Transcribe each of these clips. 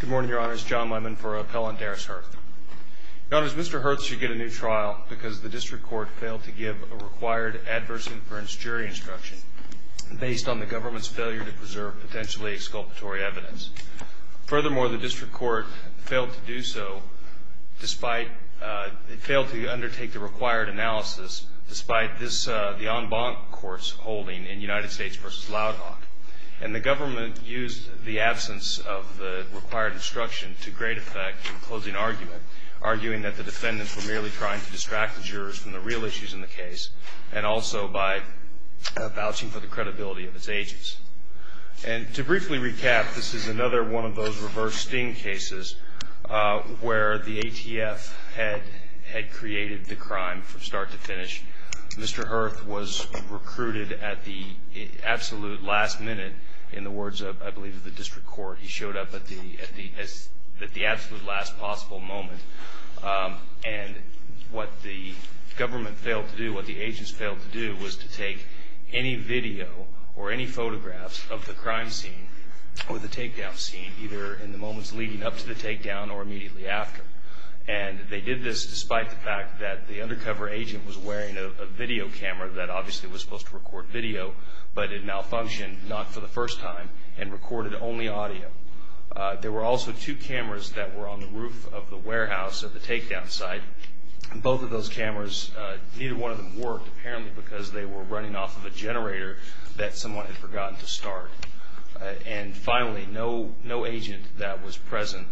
Good morning, Your Honors. John Lemon for Appellant, Derris Hurth. Your Honors, Mr. Hurth should get a new trial because the District Court failed to give a required adverse inference jury instruction based on the government's failure to preserve potentially exculpatory evidence. Furthermore, the District Court failed to undertake the required analysis despite the en banc court's holding in United States v. Loud Hawk. And the government used the absence of the required instruction to great effect in closing argument, arguing that the defendants were merely trying to distract the jurors from the real issues in the case and also by vouching for the credibility of its agents. And to briefly recap, this is another one of those reverse sting cases where the ATF had created the crime from start to finish. Mr. Hurth was recruited at the absolute last minute in the words, I believe, of the District Court. He showed up at the absolute last possible moment. And what the government failed to do, what the agents failed to do, was to take any video or any photographs of the crime scene or the takedown scene, either in the moments leading up to the takedown or immediately after. And they did this despite the fact that the undercover agent was wearing a video camera that obviously was supposed to record video, but it malfunctioned, not for the first time, and recorded only audio. There were also two cameras that were on the roof of the warehouse at the takedown site. Both of those cameras, neither one of them worked, apparently because they were running off of a generator that someone had forgotten to start. And finally, no agent that was present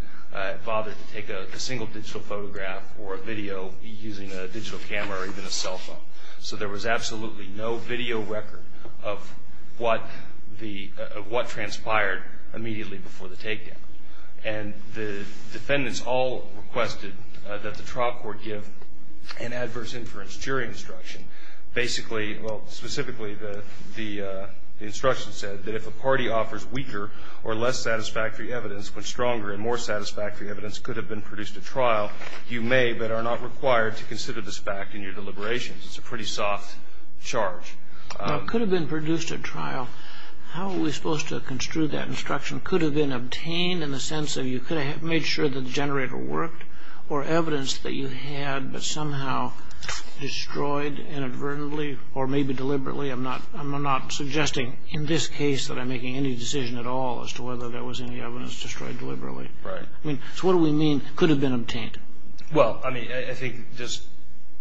bothered to take a single digital photograph or a video using a digital camera or even a cell phone. So there was absolutely no video record of what transpired immediately before the takedown. And the defendants all requested that the trial court give an adverse inference jury instruction. Basically, well, specifically, the instruction said that if a party offers weaker or less satisfactory evidence but stronger and more satisfactory evidence could have been produced at trial, you may but are not required to consider this fact in your deliberations. It's a pretty soft charge. Now, could have been produced at trial, how are we supposed to construe that instruction? Could have been obtained in the sense of you could have made sure the generator worked or evidence that you had but somehow destroyed inadvertently or maybe deliberately. I'm not suggesting in this case that I'm making any decision at all as to whether there was any evidence destroyed deliberately. So what do we mean could have been obtained? Well, I mean, I think just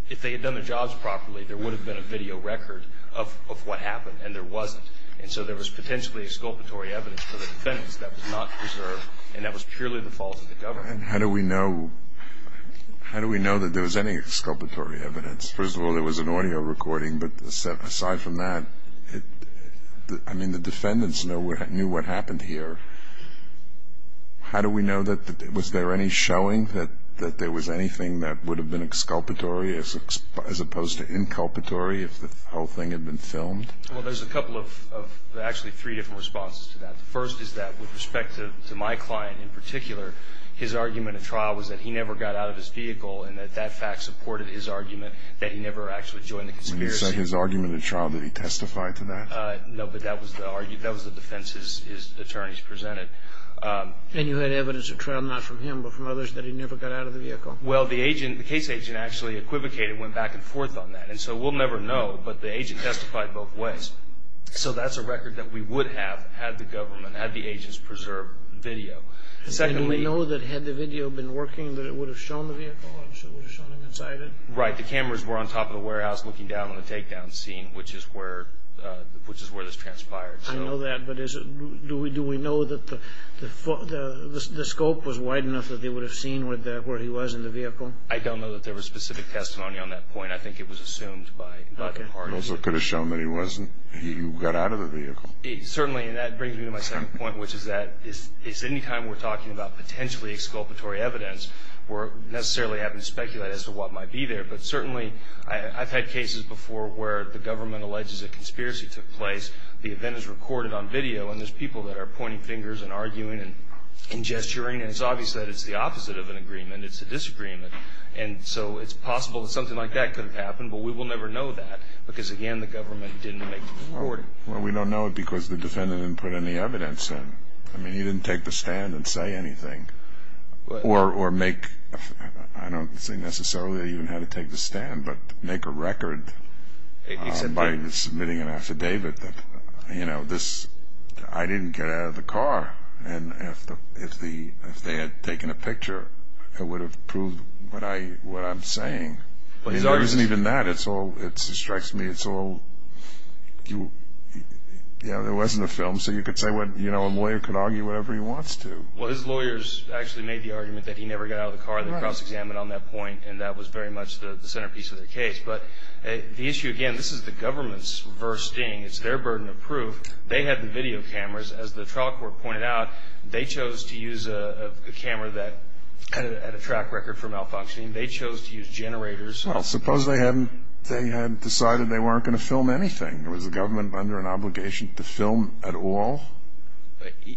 if they had done their jobs properly, there would have been a video record of what happened and there wasn't. And so there was potentially exculpatory evidence for the defendants that was not preserved and that was purely the fault of the government. And how do we know that there was any exculpatory evidence? First of all, there was an audio recording, but aside from that, I mean, the defendants knew what happened here. How do we know that? Was there any showing that there was anything that would have been exculpatory as opposed to inculpatory if the whole thing had been filmed? Well, there's a couple of actually three different responses to that. The first is that with respect to my client in particular, his argument at trial was that he never got out of his vehicle and that that fact supported his argument that he never actually joined the conspiracy. When you say his argument at trial, did he testify to that? No, but that was the defense his attorneys presented. And you had evidence at trial not from him but from others that he never got out of the vehicle? Well, the agent, the case agent actually equivocated, went back and forth on that. And so we'll never know, but the agent testified both ways. So that's a record that we would have had the government, had the agents preserved video. And do we know that had the video been working that it would have shown the vehicle or it would have shown him inside it? Right, the cameras were on top of the warehouse looking down on the takedown scene, which is where this transpired. I know that, but do we know that the scope was wide enough that they would have seen where he was in the vehicle? I don't know that there was specific testimony on that point. I think it was assumed by Dr. Arnold. So it could have shown that he got out of the vehicle. Certainly, and that brings me to my second point, which is that anytime we're talking about potentially exculpatory evidence, we're necessarily having to speculate as to what might be there. But certainly I've had cases before where the government alleges a conspiracy took place, the event is recorded on video, and there's people that are pointing fingers and arguing and gesturing, and it's obvious that it's the opposite of an agreement. It's a disagreement. And so it's possible that something like that could have happened, but we will never know that because, again, the government didn't make the recording. Well, we don't know it because the defendant didn't put any evidence in. I mean, he didn't take the stand and say anything. Or make, I don't see necessarily even how to take the stand, but make a record by submitting an affidavit that, you know, this, I didn't get out of the car. And if they had taken a picture, it would have proved what I'm saying. I mean, there isn't even that. It's all, it strikes me, it's all, you know, there wasn't a film. So you could say what, you know, a lawyer could argue whatever he wants to. Well, his lawyers actually made the argument that he never got out of the car. They cross-examined on that point, and that was very much the centerpiece of the case. But the issue, again, this is the government's verse sting. It's their burden of proof. They had the video cameras. As the trial court pointed out, they chose to use a camera that had a track record for malfunctioning. They chose to use generators. Well, suppose they had decided they weren't going to film anything. Was the government under an obligation to film at all?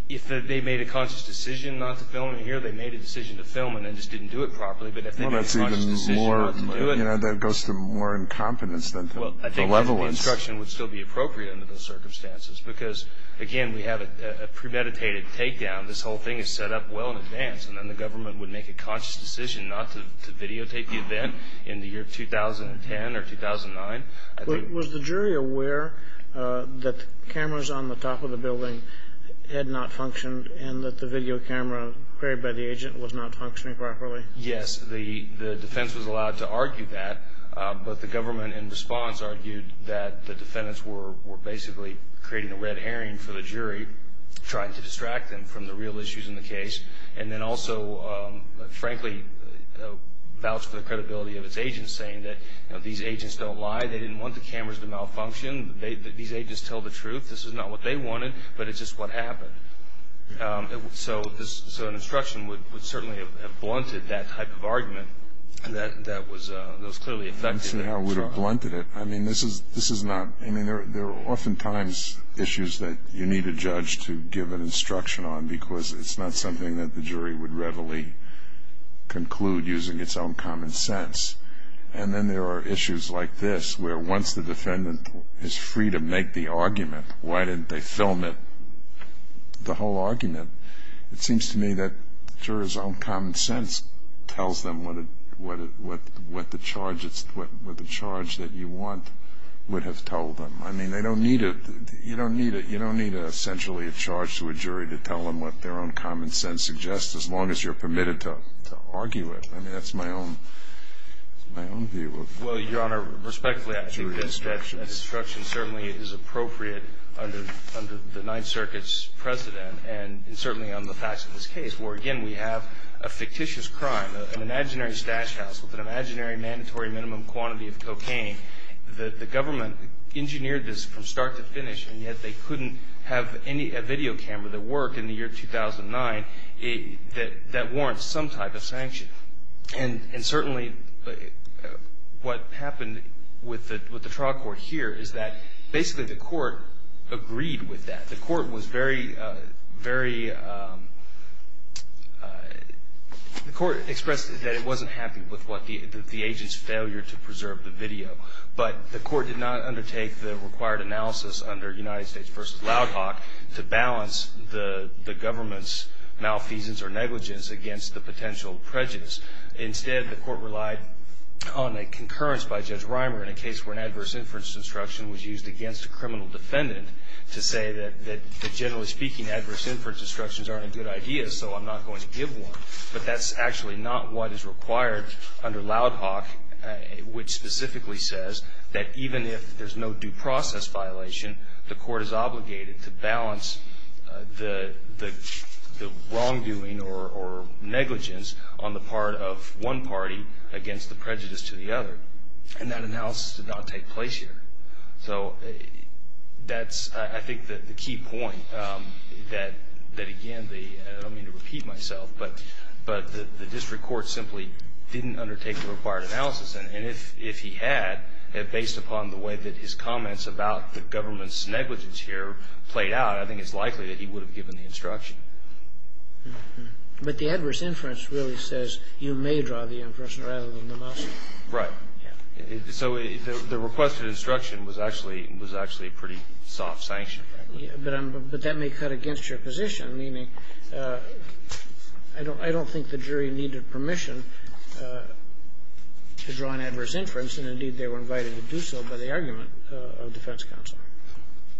If they made a conscious decision not to film it here, they made a decision to film it and just didn't do it properly, but if they made a conscious decision not to do it. Well, that's even more, you know, that goes to more incompetence than the level of instruction. Well, I think the instruction would still be appropriate under those circumstances because, again, we have a premeditated takedown. This whole thing is set up well in advance, and then the government would make a conscious decision not to videotape the event in the year 2010 or 2009. Was the jury aware that the cameras on the top of the building had not functioned and that the video camera carried by the agent was not functioning properly? Yes, the defense was allowed to argue that, but the government in response argued that the defendants were basically creating a red herring for the jury, trying to distract them from the real issues in the case, and then also, frankly, vouched for the credibility of its agents, saying that, you know, these agents don't lie. They didn't want the cameras to malfunction. These agents tell the truth. This is not what they wanted, but it's just what happened. So an instruction would certainly have blunted that type of argument that was clearly effective. Let's see how it would have blunted it. I mean, this is not ñ I mean, there are oftentimes issues that you need a judge to give an instruction on because it's not something that the jury would readily conclude using its own common sense. And then there are issues like this, where once the defendant is free to make the argument, why didn't they film it, the whole argument? It seems to me that the juror's own common sense tells them what the charge that you want would have told them. I mean, they don't need a ñ you don't need a ñ you don't need essentially a charge to a jury to tell them what their own common sense suggests, as long as you're permitted to argue it. I mean, that's my own view of it. Well, Your Honor, respectfully, I think that instruction certainly is appropriate under the Ninth Circuit's precedent and certainly on the facts of this case, where, again, we have a fictitious crime, the government engineered this from start to finish, and yet they couldn't have any ñ a video camera that worked in the year 2009 that warrants some type of sanction. And certainly what happened with the trial court here is that basically the court agreed with that. The court was very, very ñ the court expressed that it wasn't happy with what the ñ the agent's failure to preserve the video. But the court did not undertake the required analysis under United States v. Loud Hawk to balance the government's malfeasance or negligence against the potential prejudice. Instead, the court relied on a concurrence by Judge Reimer in a case where an adverse inference instruction was used against a criminal defendant to say that generally speaking adverse inference instructions aren't a good idea, so I'm not going to give one. But that's actually not what is required under Loud Hawk, which specifically says that even if there's no due process violation, the court is obligated to balance the wrongdoing or negligence on the part of one party against the prejudice to the other. And that analysis did not take place here. So that's, I think, the key point that, again, I don't mean to repeat myself, but the district court simply didn't undertake the required analysis. And if he had, based upon the way that his comments about the government's negligence here played out, I think it's likely that he would have given the instruction. But the adverse inference really says you may draw the inference rather than the motion. Right. So the requested instruction was actually a pretty soft sanction. But that may cut against your position, meaning I don't think the jury needed permission to draw an adverse inference, and indeed they were invited to do so by the argument of defense counsel.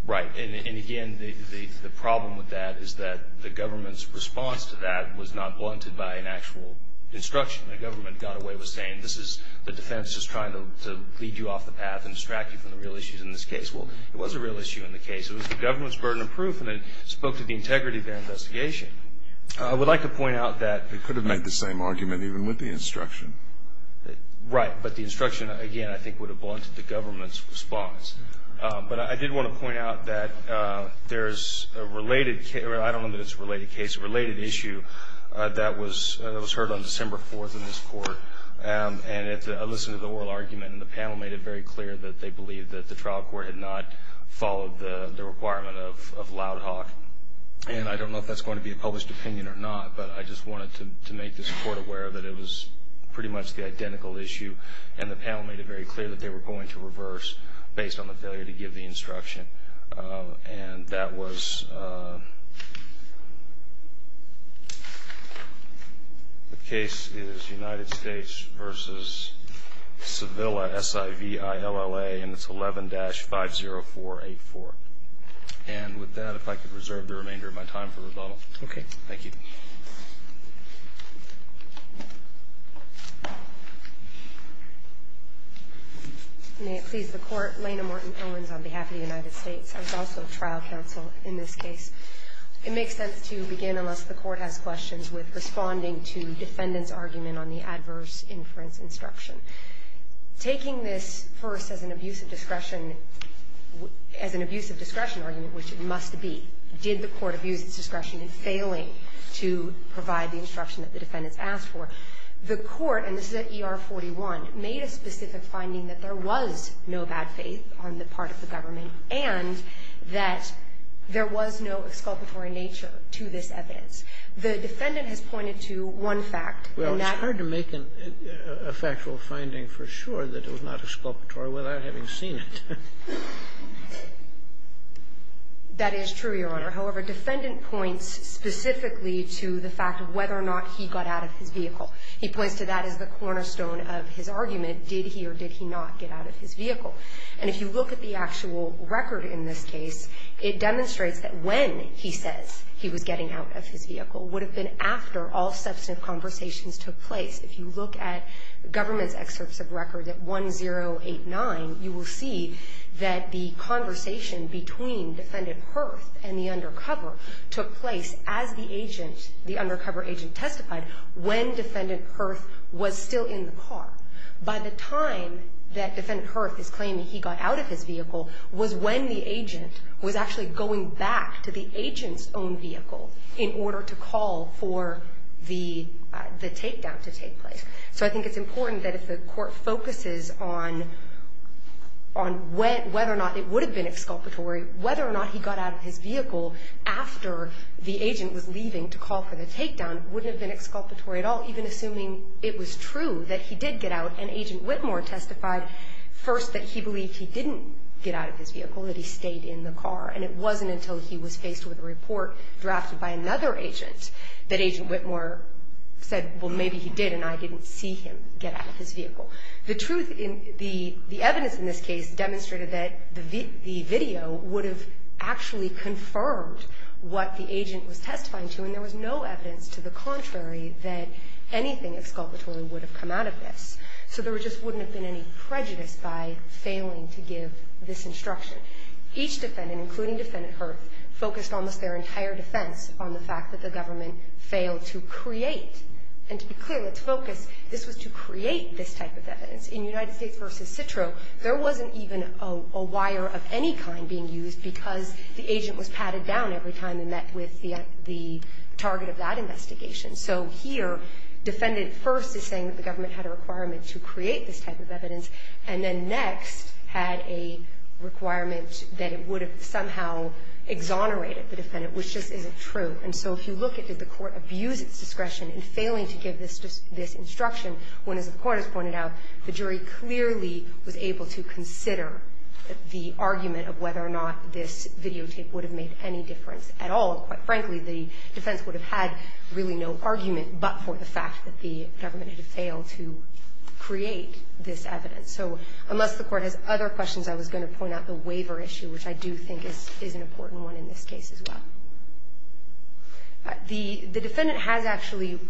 Right. And again, the problem with that is that the government's response to that was not blunted by an actual instruction. The government got away with saying this is the defense is trying to lead you off the path and distract you from the real issues in this case. Well, it was a real issue in the case. It was the government's burden of proof, and it spoke to the integrity of their investigation. I would like to point out that they could have made the same argument even with the instruction. Right. But the instruction, again, I think would have blunted the government's response. But I did want to point out that there's a related case, or I don't know that it's a related case, a related issue, that was heard on December 4th in this court. And I listened to the oral argument, and the panel made it very clear that they believed that the trial court had not followed the requirement of loud talk. And I don't know if that's going to be a published opinion or not, but I just wanted to make this court aware that it was pretty much the identical issue, and the panel made it very clear that they were going to reverse based on the failure to give the instruction. And that was the case is United States v. Sevilla, S-I-V-I-L-L-A, and it's 11-50484. And with that, if I could reserve the remainder of my time for rebuttal. Okay. Thank you. May it please the Court. Lena Martin-Owens on behalf of the United States. I was also trial counsel in this case. It makes sense to begin, unless the Court has questions, with responding to defendant's argument on the adverse inference instruction. Taking this first as an abuse of discretion, as an abuse of discretion argument, which it must be, did the Court abuse its discretion in failing to provide the instruction that the defendants asked for, the Court, and this is at ER-41, made a specific finding that there was no bad faith on the part of the government and that there was no exculpatory nature to this evidence. The defendant has pointed to one fact. And that's why I'm here. Well, it's hard to make a factual finding for sure that it was not exculpatory without having seen it. That is true, Your Honor. However, defendant points specifically to the fact of whether or not he got out of his vehicle. He points to that as the cornerstone of his argument. Did he or did he not get out of his vehicle? And if you look at the actual record in this case, it demonstrates that when he says he was getting out of his vehicle would have been after all substantive conversations took place. If you look at government's excerpts of record at 1089, you will see that the conversation between Defendant Hurth and the undercover took place as the agent, the undercover agent testified when Defendant Hurth was still in the car. By the time that Defendant Hurth is claiming he got out of his vehicle was when the agent was actually going back to the agent's own vehicle in order to call for the takedown to take place. So I think it's important that if the court focuses on whether or not it would have been exculpatory, whether or not he got out of his vehicle after the agent was leaving to call for the takedown wouldn't have been exculpatory at all, even assuming it was true that he did get out and Agent Whitmore testified first that he believed he didn't get out of his vehicle, that he stayed in the car. And it wasn't until he was faced with a report drafted by another agent that Agent Whitmore said, well, maybe he did and I didn't see him get out of his vehicle. The truth in the evidence in this case demonstrated that the video would have actually confirmed what the agent was testifying to and there was no evidence to the contrary that anything exculpatory would have come out of this. So there just wouldn't have been any prejudice by failing to give this instruction. Each defendant, including Defendant Hurth, focused almost their entire defense on the fact that the government failed to create, and to be clear, let's focus, this was to create this type of evidence. In United States v. Citro, there wasn't even a wire of any kind being used because the agent was patted down every time he met with the target of that investigation. So here, Defendant Hurth is saying that the government had a requirement to create this type of evidence and then Next had a requirement that it would have somehow exonerated the defendant, which just isn't true. And so if you look at did the Court abuse its discretion in failing to give this instruction when, as the Court has pointed out, the jury clearly was able to consider the argument of whether or not this videotape would have made any difference at all. Quite frankly, the defense would have had really no argument but for the fact that the government had failed to create this evidence. So unless the Court has other questions, I was going to point out the waiver issue, which I do think is an important one in this case as well. The defendant has actually,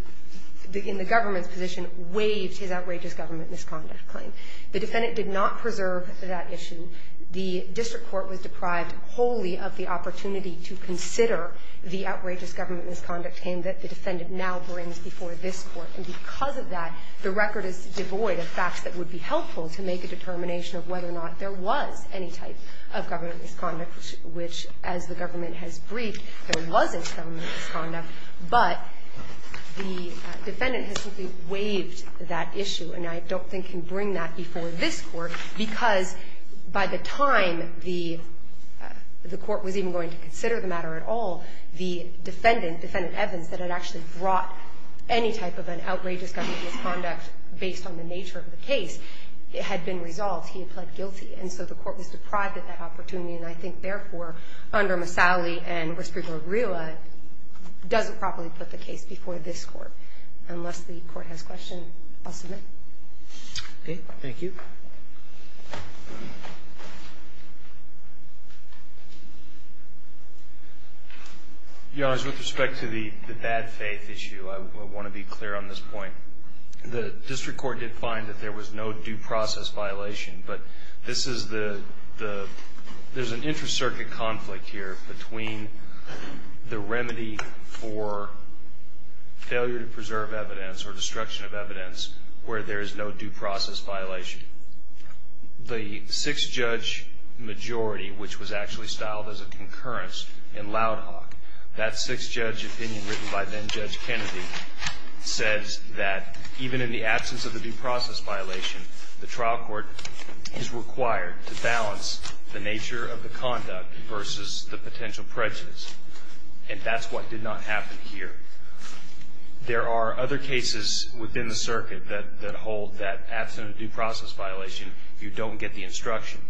in the government's position, waived his outrageous government misconduct claim. The defendant did not preserve that issue. The district court was deprived wholly of the opportunity to consider the outrageous government misconduct claim that the defendant now brings before this Court. And because of that, the record is devoid of facts that would be helpful to make a determination of whether or not there was any type of government misconduct, which, as the government has briefed, there wasn't government misconduct. But the defendant has simply waived that issue, and I don't think he can bring that before this Court, because by the time the Court was even going to consider the matter at all, the defendant, Defendant Evans, that had actually brought any type of an outrageous government misconduct based on the nature of the case, it had been resolved. He had pled guilty. And so the Court was deprived of that opportunity, and I think, therefore, under Masalli and Restrepo Rila, doesn't properly put the case before this Court. Unless the Court has questions, I'll submit. Okay. Thank you. Your Honor, with respect to the bad faith issue, I want to be clear on this point. The district court did find that there was no due process violation, but this is the there's an inter-circuit conflict here between the remedy for failure to preserve evidence or destruction of evidence where there is no due process violation. The sixth judge majority, which was actually styled as a concurrence in Loud Hawk, that sixth judge opinion written by then Judge Kennedy says that even in the absence of a due process violation, the trial court is required to balance the nature of the conduct versus the potential prejudice. And that's what did not happen here. There are other cases within the circuit that hold that absent a due process violation, you don't get the instruction.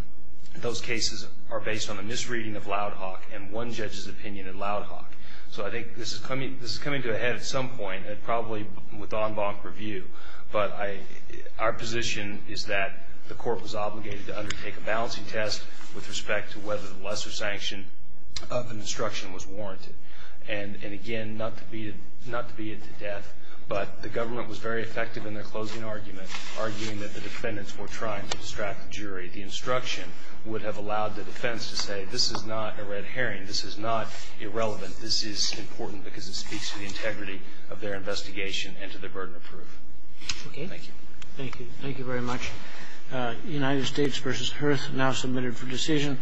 Those cases are based on a misreading of Loud Hawk and one judge's opinion in Loud Hawk. So I think this is coming to a head at some point, probably with en banc review. But our position is that the Court was obligated to undertake a balancing test with respect to whether the lesser sanction of an instruction was warranted. And again, not to beat it to death, but the government was very effective in their closing argument, arguing that the defendants were trying to distract the jury. The instruction would have allowed the defense to say, this is not a red herring. This is not irrelevant. This is important because it speaks to the integrity of their investigation and to their burden of proof. Thank you. Thank you. Thank you very much. United States v. Hearth, now submitted for decision.